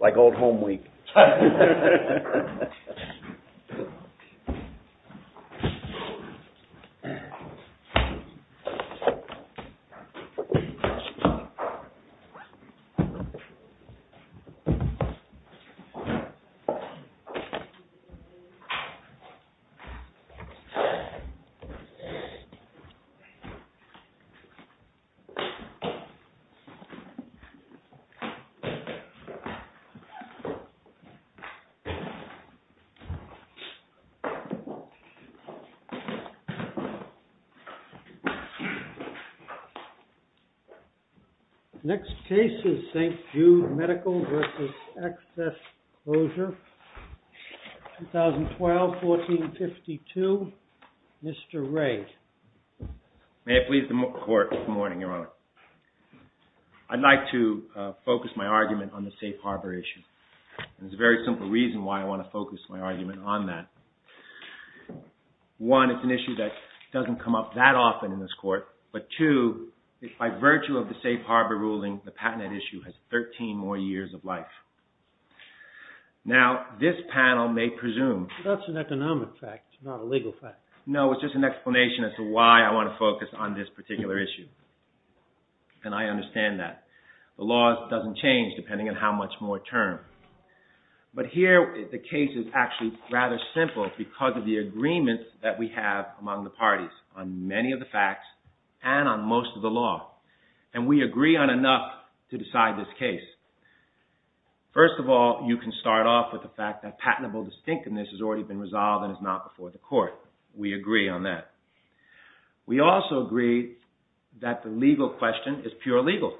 Like old home week. Next case is St. Jude Medical v. Access Closure, 2012, 1452. Mr. Ray. May it please the Court, good morning, Your Honor. I'd like to focus my argument on the safe harbor issue. There's a very simple reason why I want to focus my argument on that. One, it's an issue that doesn't come up that often in this Court. But two, by virtue of the safe harbor ruling, the patented issue has 13 more years of life. Now, this panel may presume... That's an economic fact, not a legal fact. No, it's just an explanation as to why I want to focus on this particular issue. And I understand that. The law doesn't change depending on how much more time. But here, the case is actually rather simple because of the agreement that we have among the parties on many of the facts and on most of the law. And we agree on enough to decide this case. First of all, you can start off with the fact that patentable distinctiveness has already been resolved and is not before the Court. We agree on that. We also agree that the legal question is pure legal.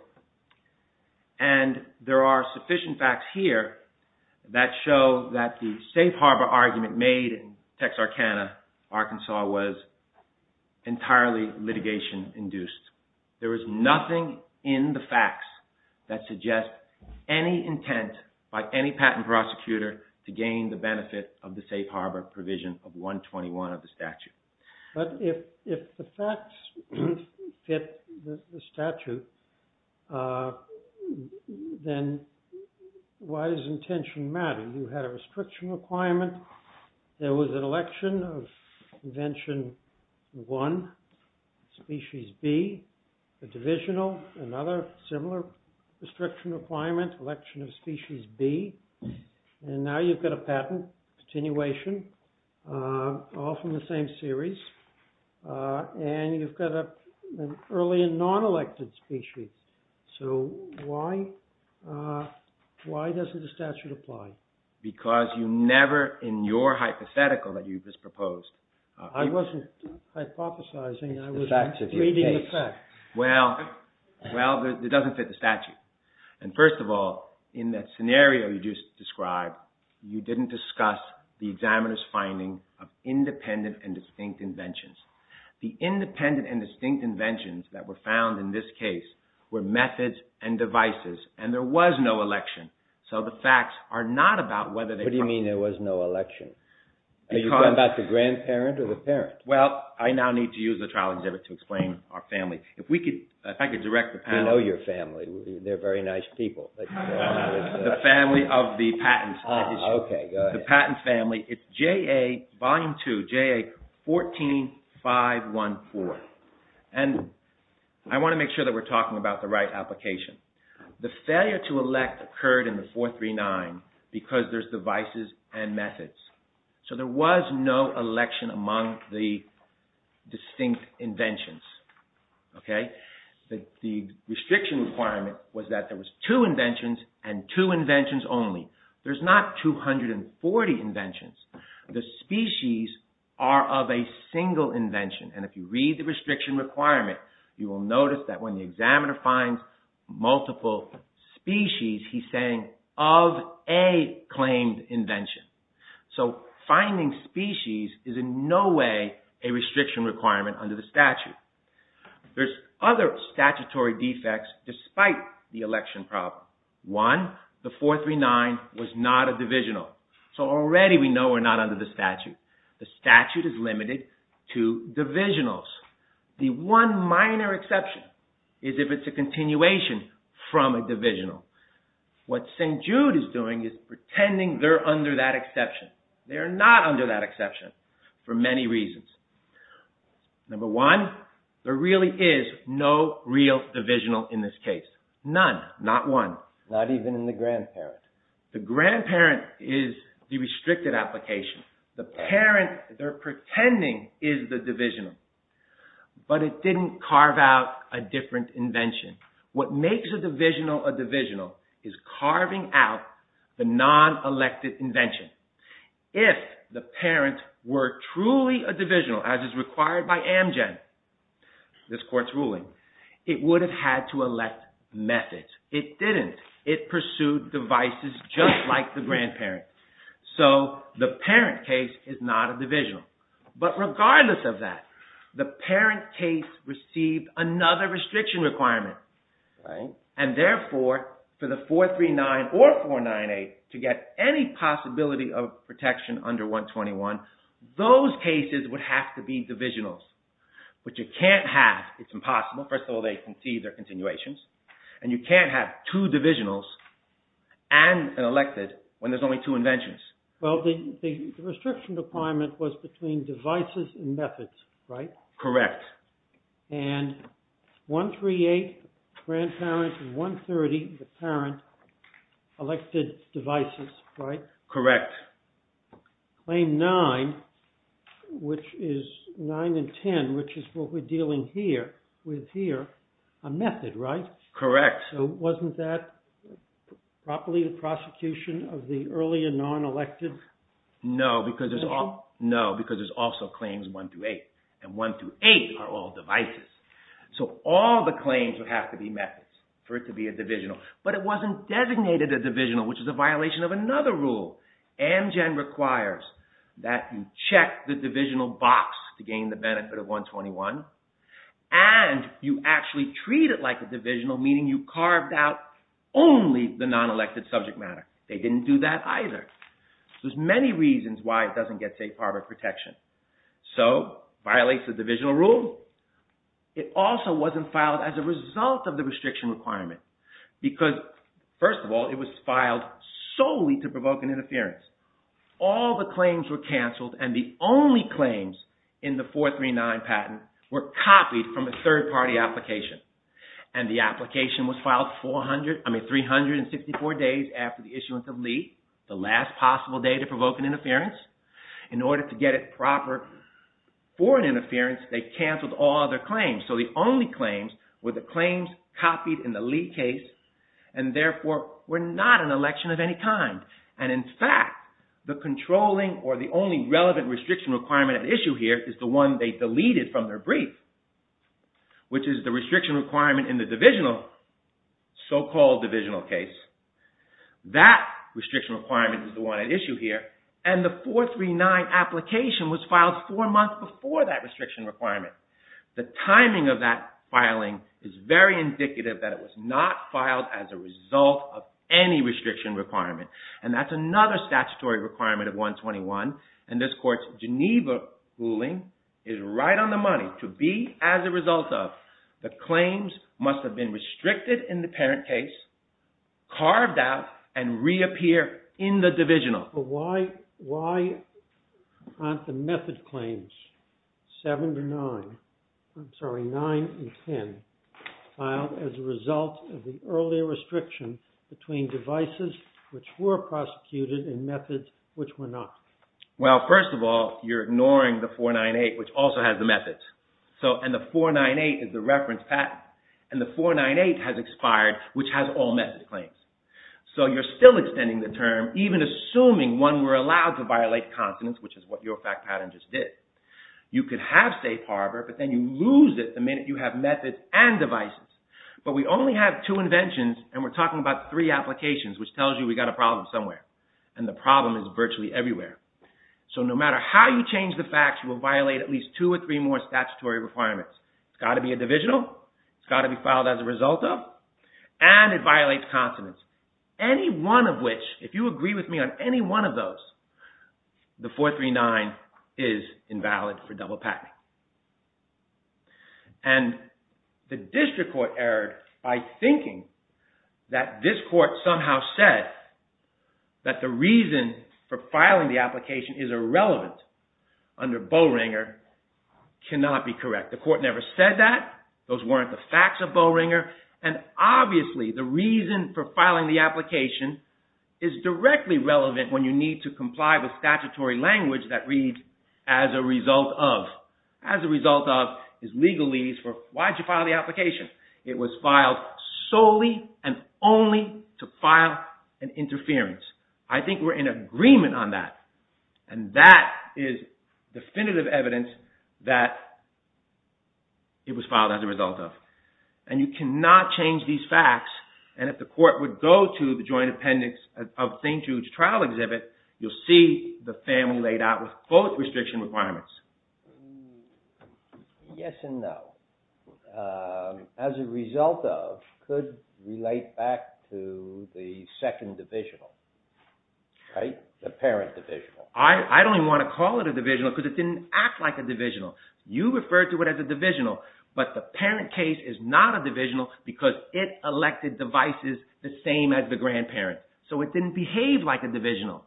And there are sufficient facts here that show that the safe harbor argument made in Texarkana, Arkansas, was entirely litigation-induced. There is nothing in the facts that suggests any intent by any patent prosecutor to gain the benefit of the safe harbor provision of 121 of the statute. But if the facts fit the statute, then why does intention matter? You had a restriction requirement. There was an election of Convention 1, Species B. A divisional, another similar restriction requirement, Election of Species B. And now you've got a patent continuation, all from the same series. And you've got an early and non-elected species. So why doesn't the statute apply? Because you never, in your hypothetical that you just proposed... I wasn't hypothesizing. I was reading the facts. Well, it doesn't fit the statute. And first of all, in that scenario you just described, you didn't discuss the examiner's finding of independent and distinct inventions. The independent and distinct inventions that were found in this case were methods and devices, and there was no election. So the facts are not about whether they... What do you mean there was no election? Are you talking about the grandparent or the parent? Well, I now need to use the trial exhibit to explain our family. If I could direct the panel... We know your family. They're very nice people. The family of the patents. Oh, okay. Go ahead. The patents family. It's JA Volume 2, JA 14-514. And I want to make sure that we're talking about the right application. The failure to elect occurred in the 439 because there's devices and methods. So there was no election among the distinct inventions. Okay? The restriction requirement was that there was two inventions and two inventions only. There's not 240 inventions. The species are of a single invention. And if you read the restriction requirement, you will notice that when the examiner finds multiple species, he's saying of a claimed invention. So finding species is in no way a restriction requirement under the statute. There's other statutory defects despite the election problem. One, the 439 was not a divisional. So already we know we're not under the statute. The statute is limited to divisionals. The one minor exception is if it's a continuation from a divisional. What St. Jude is doing is pretending they're under that exception. They are not under that exception for many reasons. Number one, there really is no real divisional in this case. None. Not one. Not even in the grandparent. The grandparent is the restricted application. The parent they're pretending is the divisional. But it didn't carve out a different invention. What makes a divisional a divisional is carving out the non-elected invention. If the parent were truly a divisional, as is required by Amgen, this court's ruling, it would have had to elect methods. It didn't. It pursued devices just like the grandparent. So the parent case is not a divisional. But regardless of that, the parent case received another restriction requirement. And therefore, for the 439 or 498 to get any possibility of protection under 121, those cases would have to be divisionals. Which you can't have. It's impossible. First of all, they concede they're continuations. And you can't have two divisionals and an elected when there's only two inventions. Well, the restriction requirement was between devices and methods, right? Correct. And 138, grandparent, and 130, the parent, elected devices, right? Correct. Claim 9, which is 9 and 10, which is what we're dealing with here, a method, right? Correct. So wasn't that properly the prosecution of the earlier non-elected invention? No, because there's also claims 1 through 8. And 1 through 8 are all devices. So all the claims would have to be methods for it to be a divisional. But it wasn't designated a divisional, which is a violation of another rule. Amgen requires that you check the divisional box to gain the benefit of 121. And you actually treat it like a divisional, meaning you carved out only the non-elected subject matter. They didn't do that either. There's many reasons why it doesn't get safe harbor protection. So it violates the divisional rule. It also wasn't filed as a result of the restriction requirement. Because, first of all, it was filed solely to provoke an interference. All the claims were canceled. And the only claims in the 439 patent were copied from a third-party application. And the application was filed 364 days after the issuance of Lee, the last possible day to provoke an interference. In order to get it proper for an interference, they canceled all other claims. So the only claims were the claims copied in the Lee case and, therefore, were not an election of any kind. And, in fact, the controlling or the only relevant restriction requirement at issue here is the one they deleted from their brief, which is the restriction requirement in the divisional, so-called divisional case. That restriction requirement is the one at issue here. And the 439 application was filed four months before that restriction requirement. The timing of that filing is very indicative that it was not filed as a result of any restriction requirement. And that's another statutory requirement of 121. And this court's Geneva ruling is right on the money to be, as a result of, the claims must have been restricted in the parent case, carved out, and reappear in the divisional. But why aren't the method claims, 7 to 9, I'm sorry, 9 and 10, filed as a result of the earlier restriction between devices which were prosecuted and methods which were not? Well, first of all, you're ignoring the 498, which also has the methods. And the 498 is the reference patent. And the 498 has expired, which has all method claims. So you're still extending the term, even assuming one were allowed to violate consonants, which is what your fact pattern just did. You could have safe harbor, but then you lose it the minute you have methods and devices. But we only have two inventions, and we're talking about three applications, which tells you we've got a problem somewhere. And the problem is virtually everywhere. So no matter how you change the facts, you will violate at least two or three more statutory requirements. It's got to be a divisional. It's got to be filed as a result of. And it violates consonants. Any one of which, if you agree with me on any one of those, the 439 is invalid for double patenting. And the district court erred by thinking that this court somehow said that the reason for filing the application is irrelevant under Bowringer cannot be correct. The court never said that. Those weren't the facts of Bowringer. And obviously the reason for filing the application is directly relevant when you need to comply with statutory language that reads as a result of. As a result of is legalese for why did you file the application? It was filed solely and only to file an interference. I think we're in agreement on that. And that is definitive evidence that it was filed as a result of. And you cannot change these facts. And if the court would go to the joint appendix of St. Jude's trial exhibit, you'll see the family laid out with both restriction requirements. Yes and no. As a result of could relate back to the second divisional, right? The parent divisional. I don't even want to call it a divisional because it didn't act like a divisional. You refer to it as a divisional but the parent case is not a divisional because it elected devices the same as the grandparent. So it didn't behave like a divisional.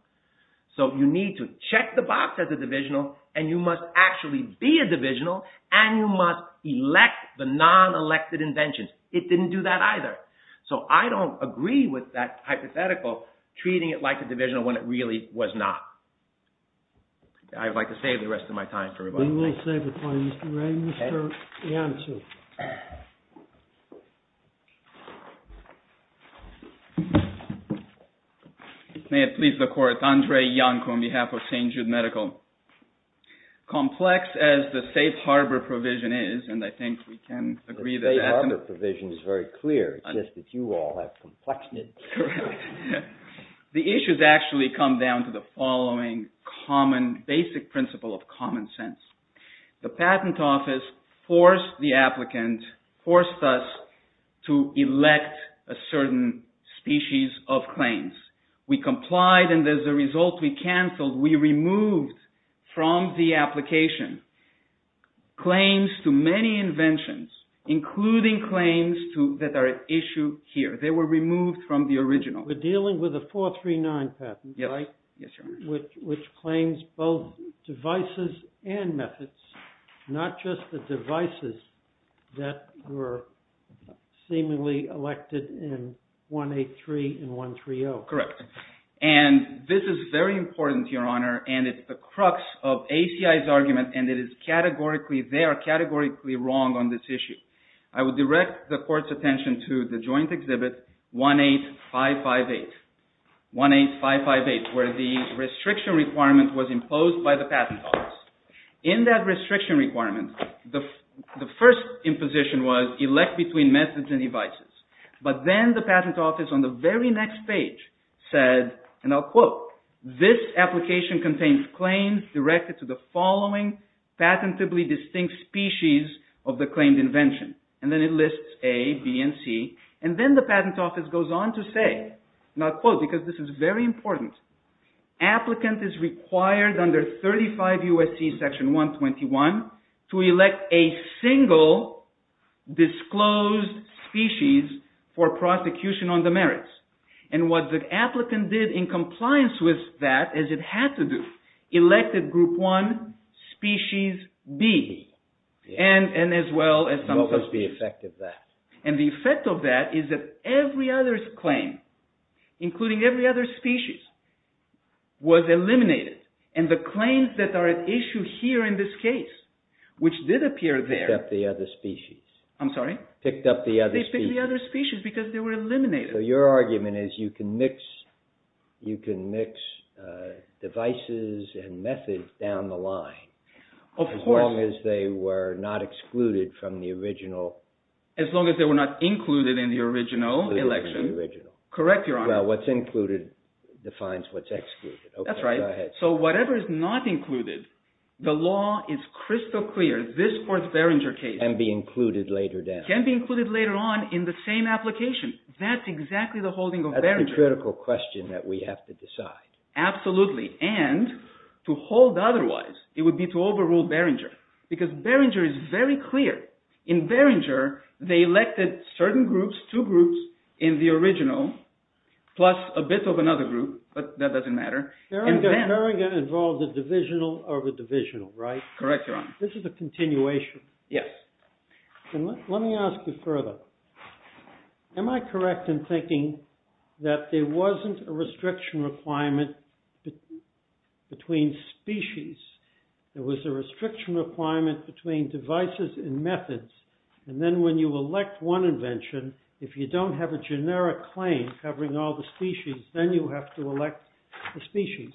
So you need to check the box as a divisional and you must actually be a divisional and you must elect the non-elected inventions. It didn't do that either. So I don't agree with that hypothetical treating it like a divisional when it really was not. I'd like to save the rest of my time for rebuttal. I will save the time, Mr. Wray. Mr. Iancu. May it please the court. Andre Iancu on behalf of St. Jude Medical. Complex as the safe harbor provision is, and I think we can agree that that's… The safe harbor provision is very clear. It's just that you all have complex… The issues actually come down to the following common basic principle of common sense. The patent office forced the applicant, forced us to elect a certain species of claims. We complied and as a result we canceled, we removed from the application claims to many inventions including claims that are at issue here. They were removed from the original. We're dealing with a 439 patent, right? Yes, Your Honor. Which claims both devices and methods, not just the devices that were seemingly elected in 183 and 130. Correct. And this is very important, Your Honor, and it's the crux of ACI's argument and it is categorically, they are categorically wrong on this issue. I would direct the court's attention to the joint exhibit 18558. 18558 where the restriction requirement was imposed by the patent office. In that restriction requirement, the first imposition was elect between methods and devices. But then the patent office on the very next page said, and I'll quote, And then the patent office goes on to say, and I'll quote because this is very important, And what the applicant did in compliance with that is it had to do, elected group one, species B. And what was the effect of that? And the effect of that is that every other claim, including every other species, was eliminated. And the claims that are at issue here in this case, which did appear there. Picked up the other species. I'm sorry? Picked up the other species. They picked up the other species because they were eliminated. So your argument is you can mix devices and methods down the line. Of course. As long as they were not excluded from the original. As long as they were not included in the original election. Correct, Your Honor. Well, what's included defines what's excluded. That's right. So whatever is not included, the law is crystal clear. Can be included later down. Can be included later on in the same application. That's exactly the holding of Behringer. That's the critical question that we have to decide. Absolutely. And to hold otherwise, it would be to overrule Behringer. Because Behringer is very clear. In Behringer, they elected certain groups, two groups, in the original, plus a bit of another group, but that doesn't matter. Correct, Your Honor. This is a continuation. Yes. Let me ask you further. Am I correct in thinking that there wasn't a restriction requirement between species? There was a restriction requirement between devices and methods. And then when you elect one invention, if you don't have a generic claim covering all the species, then you have to elect the species.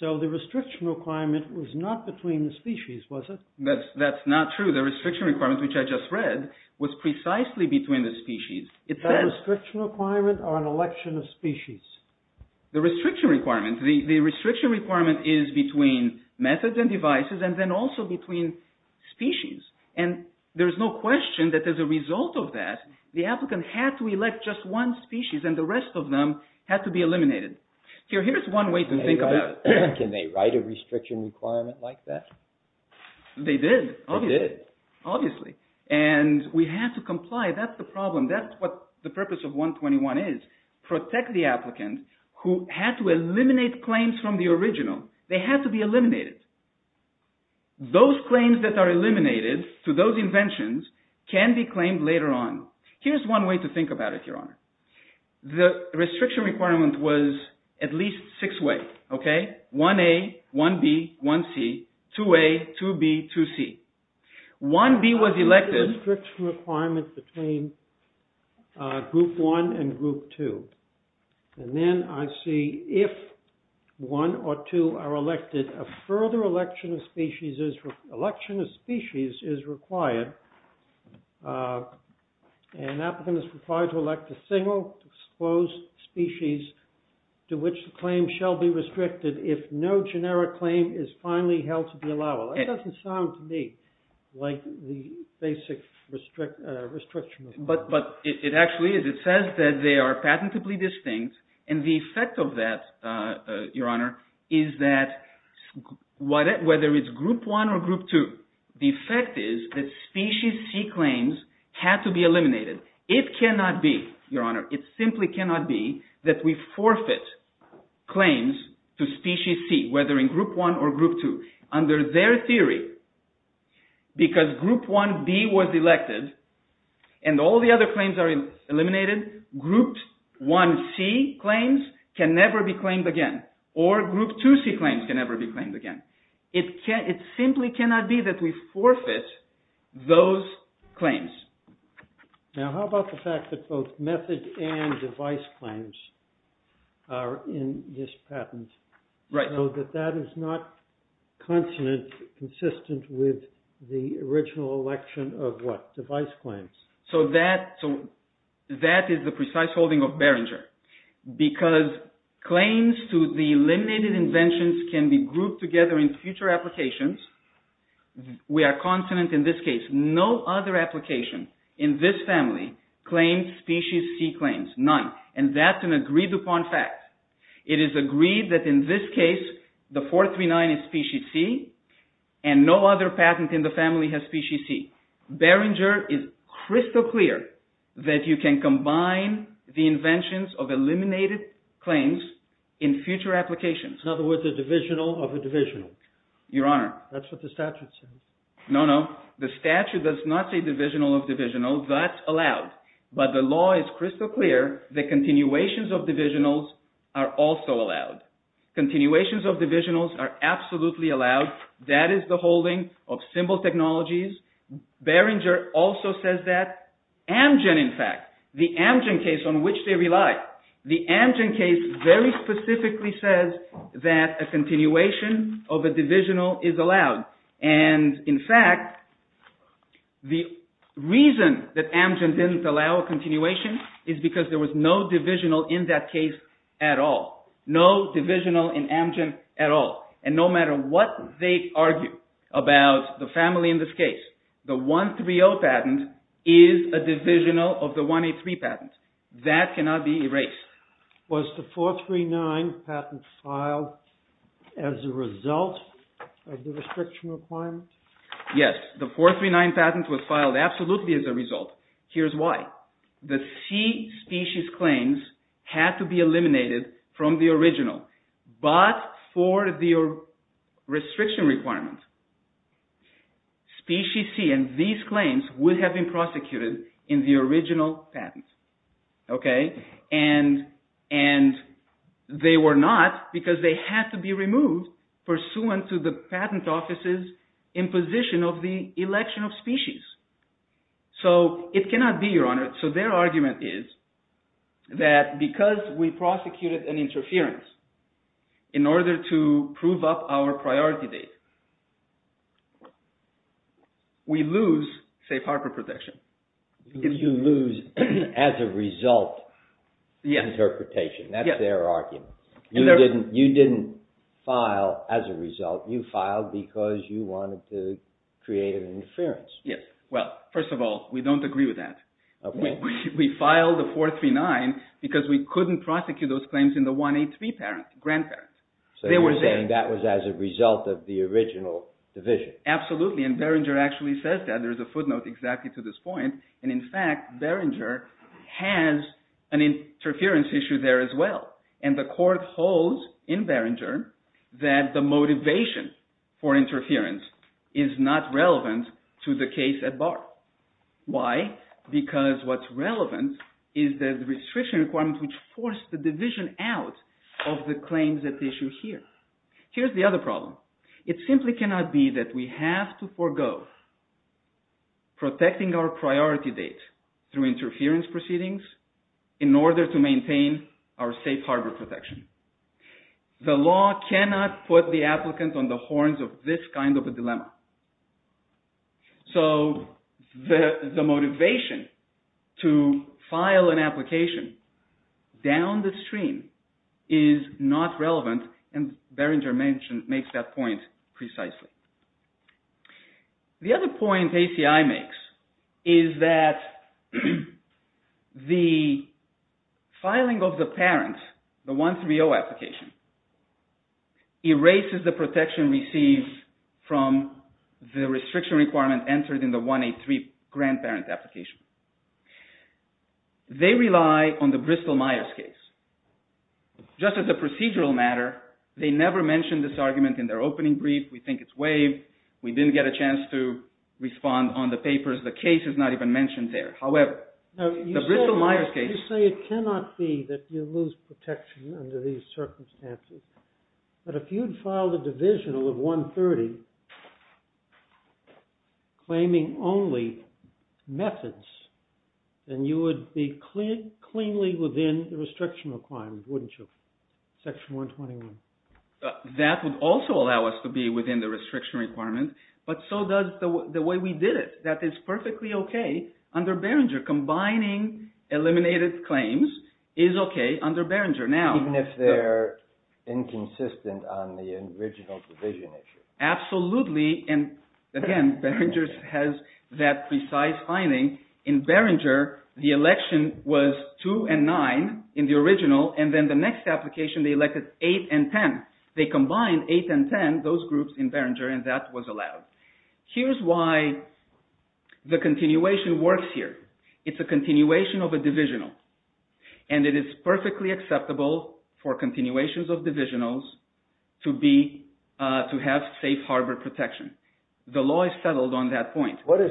So the restriction requirement was not between the species, was it? That's not true. The restriction requirement, which I just read, was precisely between the species. Is that a restriction requirement or an election of species? The restriction requirement. The restriction requirement is between methods and devices and then also between species. And there's no question that as a result of that, the applicant had to elect just one species and the rest of them had to be eliminated. Here's one way to think about it. Can they write a restriction requirement like that? They did. They did. Obviously. And we have to comply. That's the problem. That's what the purpose of 121 is. Protect the applicant who had to eliminate claims from the original. They had to be eliminated. Those claims that are eliminated to those inventions can be claimed later on. Here's one way to think about it, Your Honor. The restriction requirement was at least six-way. Okay? 1A, 1B, 1C, 2A, 2B, 2C. 1B was elected. There's a restriction requirement between Group 1 and Group 2. And then I see, if one or two are elected, a further election of species is required. An applicant is required to elect a single, exposed species to which the claim shall be restricted if no generic claim is finally held to be allowable. That doesn't sound to me like the basic restriction requirement. But it actually is. It says that they are patentably distinct. And the effect of that, Your Honor, is that whether it's Group 1 or Group 2, the effect is that Species C claims have to be eliminated. It cannot be, Your Honor. It simply cannot be that we forfeit claims to Species C, whether in Group 1 or Group 2. Under their theory, because Group 1B was elected, and all the other claims are eliminated, Group 1C claims can never be claimed again. Or Group 2C claims can never be claimed again. It simply cannot be that we forfeit those claims. Now how about the fact that both method and device claims are in this patent? Right. So that that is not consonant, consistent with the original election of what? Device claims. So that is the precise holding of Behringer. Because claims to the eliminated inventions can be grouped together in future applications. We are consonant in this case. No other application in this family claims Species C claims. None. And that's an agreed upon fact. It is agreed that in this case, the 439 is Species C, and no other patent in the family has Species C. Behringer is crystal clear that you can combine the inventions of eliminated claims in future applications. In other words, a divisional of a divisional. Your Honor. That's what the statute says. No, no. The statute does not say divisional of divisional. That's allowed. But the law is crystal clear that continuations of divisionals are also allowed. Continuations of divisionals are absolutely allowed. That is the holding of simple technologies. Behringer also says that. Amgen, in fact. The Amgen case on which they rely. The Amgen case very specifically says that a continuation of a divisional is allowed. And in fact, the reason that Amgen didn't allow a continuation is because there was no divisional in that case at all. No divisional in Amgen at all. And no matter what they argue about the family in this case, the 130 patent is a divisional of the 183 patent. That cannot be erased. Was the 439 patent filed as a result of the restriction requirement? Yes. The 439 patent was filed absolutely as a result. Here's why. The C species claims had to be eliminated from the original. But for the restriction requirement, species C and these claims would have been prosecuted in the original patent. And they were not because they had to be removed pursuant to the patent office's imposition of the election of species. So it cannot be, Your Honor. So their argument is that because we prosecuted an interference in order to prove up our priority date, we lose safe harbor protection. You lose as a result interpretation. That's their argument. You didn't file as a result. You filed because you wanted to create an interference. Yes. Well, first of all, we don't agree with that. We filed the 439 because we couldn't prosecute those claims in the 183 grandparents. So you're saying that was as a result of the original division. Absolutely. And Behringer actually says that. There's a footnote exactly to this point. And in fact, Behringer has an interference issue there as well. And the court holds in Behringer that the motivation for interference is not relevant to the case at bar. Why? Because what's relevant is the restriction requirement which forced the division out of the claims at issue here. Here's the other problem. It simply cannot be that we have to forego protecting our priority date through interference proceedings in order to maintain our safe harbor protection. The law cannot put the applicant on the horns of this kind of a dilemma. So the motivation to file an application down the stream is not relevant and Behringer makes that point precisely. The other point ACI makes is that the filing of the parent, the 130 application, erases the protection received from the restriction requirement entered in the 183 grandparent application. They rely on the Bristol-Myers case. Just as a procedural matter, they never mentioned this argument in their opening brief. We think it's waived. We didn't get a chance to respond on the papers. The case is not even mentioned there. You say it cannot be that you lose protection under these circumstances, but if you'd filed a divisional of 130 claiming only methods, then you would be cleanly within the restriction requirements, wouldn't you? Section 121. That would also allow us to be within the restriction requirements, but so does the way we did it. That is perfectly okay under Behringer. Combining eliminated claims is okay under Behringer. Even if they're inconsistent on the original division issue? Absolutely. Again, Behringer has that precise finding. In Behringer, the election was 2 and 9 in the original, and then the next application they elected 8 and 10. They combined 8 and 10, those groups in Behringer, and that was allowed. Here's why the continuation works here. It's a continuation of a divisional, and it is perfectly acceptable for continuations of divisionals to have safe harbor protection. The law is settled on that point. What does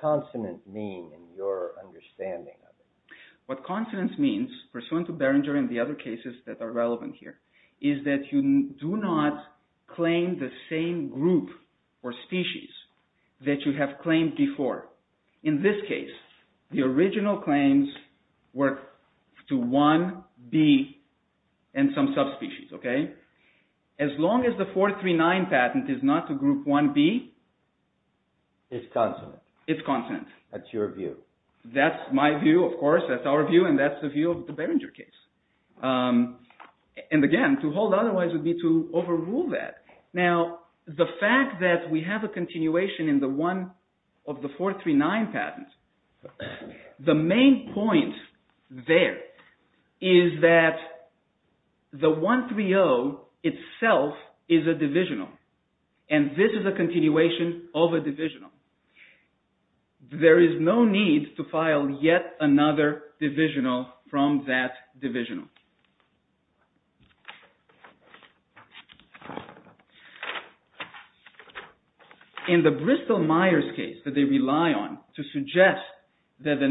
consonant mean in your understanding of it? What consonant means, pursuant to Behringer and the other cases that are relevant here, is that you do not claim the same group or species that you have claimed before. In this case, the original claims were to 1B and some subspecies. As long as the 439 patent is not to group 1B? It's consonant. It's consonant. That's your view. That's my view, of course. That's our view, and that's the view of the Behringer case. Again, to hold otherwise would be to overrule that. Now, the fact that we have a continuation of the 439 patent, the main point there is that the 130 itself is a divisional, and this is a continuation of a divisional. There is no need to file yet another divisional from that divisional. In the Bristol-Myers case that they rely on to suggest that the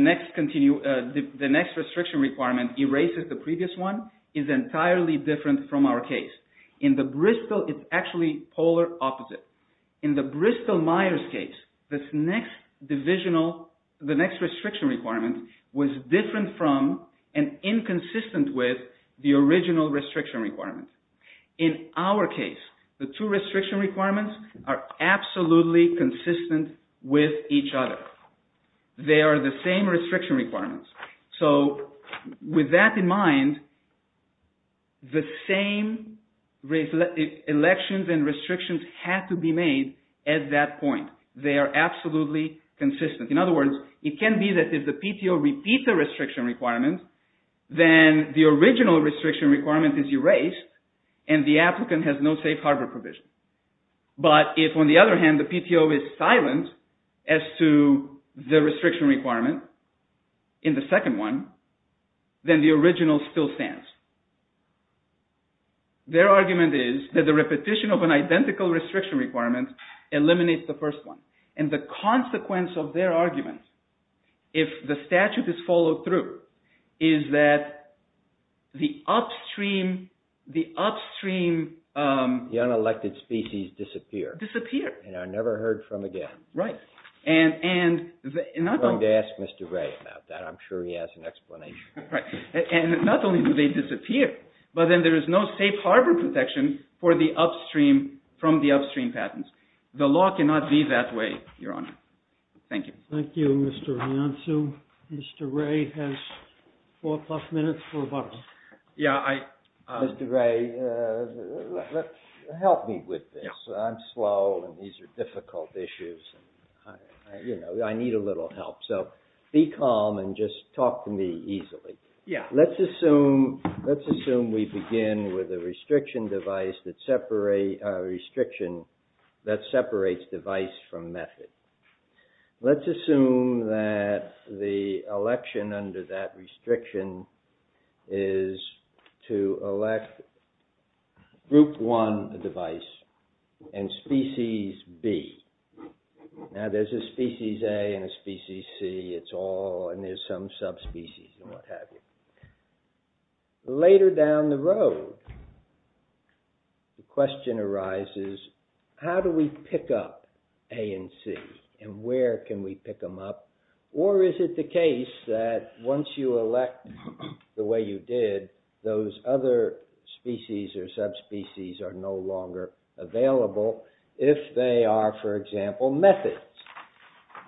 next restriction requirement erases the previous one is entirely different from our case. In the Bristol, it's actually polar opposite. In the Bristol-Myers case, this next divisional, the next restriction requirement was different from and inconsistent with the original restriction requirement. In our case, the two restriction requirements are absolutely consistent with each other. They are the same restriction requirements. So with that in mind, the same elections and restrictions had to be made at that point. They are absolutely consistent. In other words, it can be that if the PTO repeats a restriction requirement, then the original restriction requirement is erased and the applicant has no safe harbor provision. But if on the other hand, the PTO is silent as to the restriction requirement in the second one, then the original still stands. Their argument is that the repetition of an identical restriction requirement eliminates the first one. And the consequence of their argument, if the statute is followed through, is that the upstream… The unelected species disappear. Disappear. And are never heard from again. Right. I'm going to ask Mr. Ray about that. I'm sure he has an explanation. Right. And not only do they disappear, but then there is no safe harbor protection from the upstream patents. The law cannot be that way, Your Honor. Thank you. Thank you, Mr. Anansu. Mr. Ray has four plus minutes for rebuttal. Yeah, I… Mr. Ray, help me with this. I'm slow and these are difficult issues. You know, I need a little help. So be calm and just talk to me easily. Yeah. Let's assume we begin with a restriction device that separates device from method. Let's assume that the election under that restriction is to elect group one device and species B. Now, there's a species A and a species C. It's all… And there's some subspecies and what have you. Later down the road, the question arises, how do we pick up A and C? And where can we pick them up? Or is it the case that once you elect the way you did, those other species or subspecies are no longer available if they are, for example, methods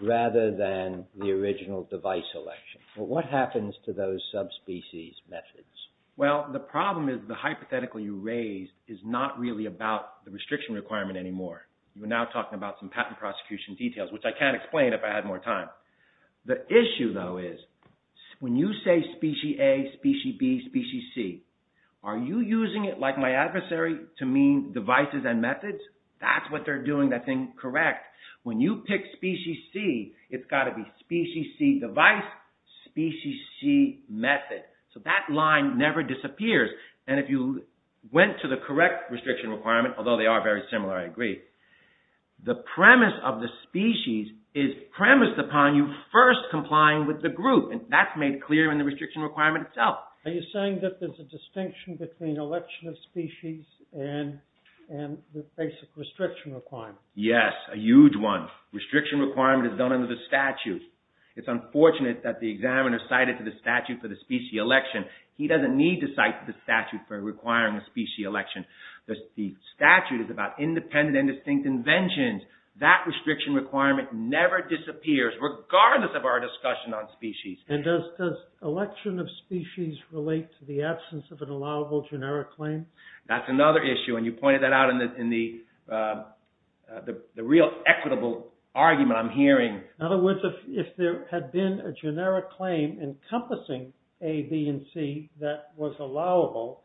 rather than the original device election? Well, what happens to those subspecies methods? Well, the problem is the hypothetical you raised is not really about the restriction requirement anymore. We're now talking about some patent prosecution details, which I can't explain if I had more time. The issue, though, is when you say species A, species B, species C, are you using it like my adversary to mean devices and methods? That's what they're doing that thing correct. When you pick species C, it's got to be species C device, species C method. So that line never disappears. And if you went to the correct restriction requirement, although they are very similar, I agree. The premise of the species is premised upon you first complying with the group. And that's made clear in the restriction requirement itself. Are you saying that there's a distinction between election of species and the basic restriction requirement? Yes, a huge one. Restriction requirement is done under the statute. It's unfortunate that the examiner cited the statute for the species election. He doesn't need to cite the statute for requiring a species election. The statute is about independent and distinct inventions. That restriction requirement never disappears, regardless of our discussion on species. And does election of species relate to the absence of an allowable generic claim? That's another issue. And you pointed that out in the real equitable argument I'm hearing. In other words, if there had been a generic claim encompassing A, B, and C that was allowable,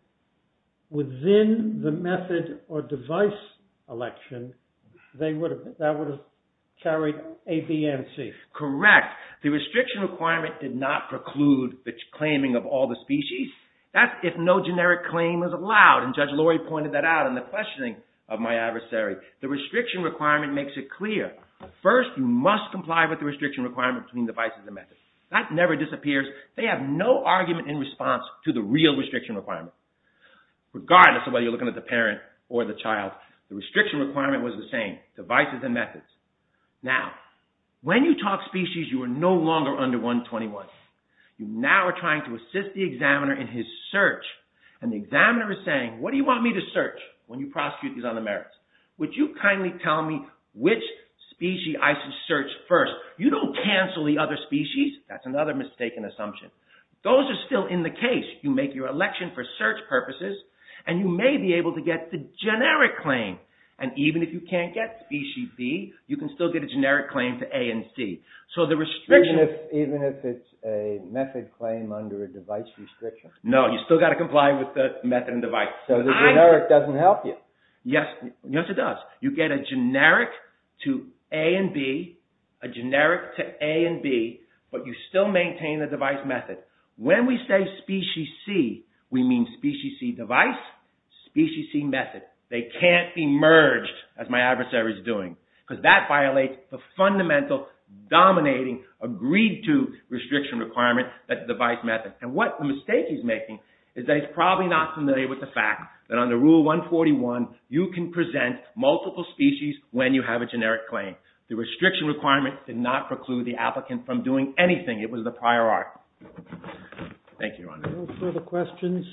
within the method or device election, that would have carried A, B, and C. Correct. The restriction requirement did not preclude the claiming of all the species. That's if no generic claim was allowed. And Judge Lori pointed that out in the questioning of my adversary. The restriction requirement makes it clear. First, you must comply with the restriction requirement between devices and methods. That never disappears. They have no argument in response to the real restriction requirement, regardless of whether you're looking at the parent or the child. The restriction requirement was the same, devices and methods. Now, when you talk species, you are no longer under 121. You now are trying to assist the examiner in his search. And the examiner is saying, what do you want me to search when you prosecute these other merits? Would you kindly tell me which species I should search first? You don't cancel the other species. That's another mistaken assumption. Those are still in the case. You make your election for search purposes, and you may be able to get the generic claim. And even if you can't get species B, you can still get a generic claim to A and C. Even if it's a method claim under a device restriction? No, you still got to comply with the method and device. So the generic doesn't help you? Yes, it does. You get a generic to A and B, a generic to A and B, but you still maintain the device method. When we say species C, we mean species C device, species C method. They can't be merged, as my adversary is doing, because that violates the fundamental dominating agreed-to restriction requirement, that device method. And what mistake he's making is that he's probably not familiar with the fact that under Rule 141, you can present multiple species when you have a generic claim. The restriction requirement did not preclude the applicant from doing anything. It was the prior art. Thank you, Your Honor. No further questions?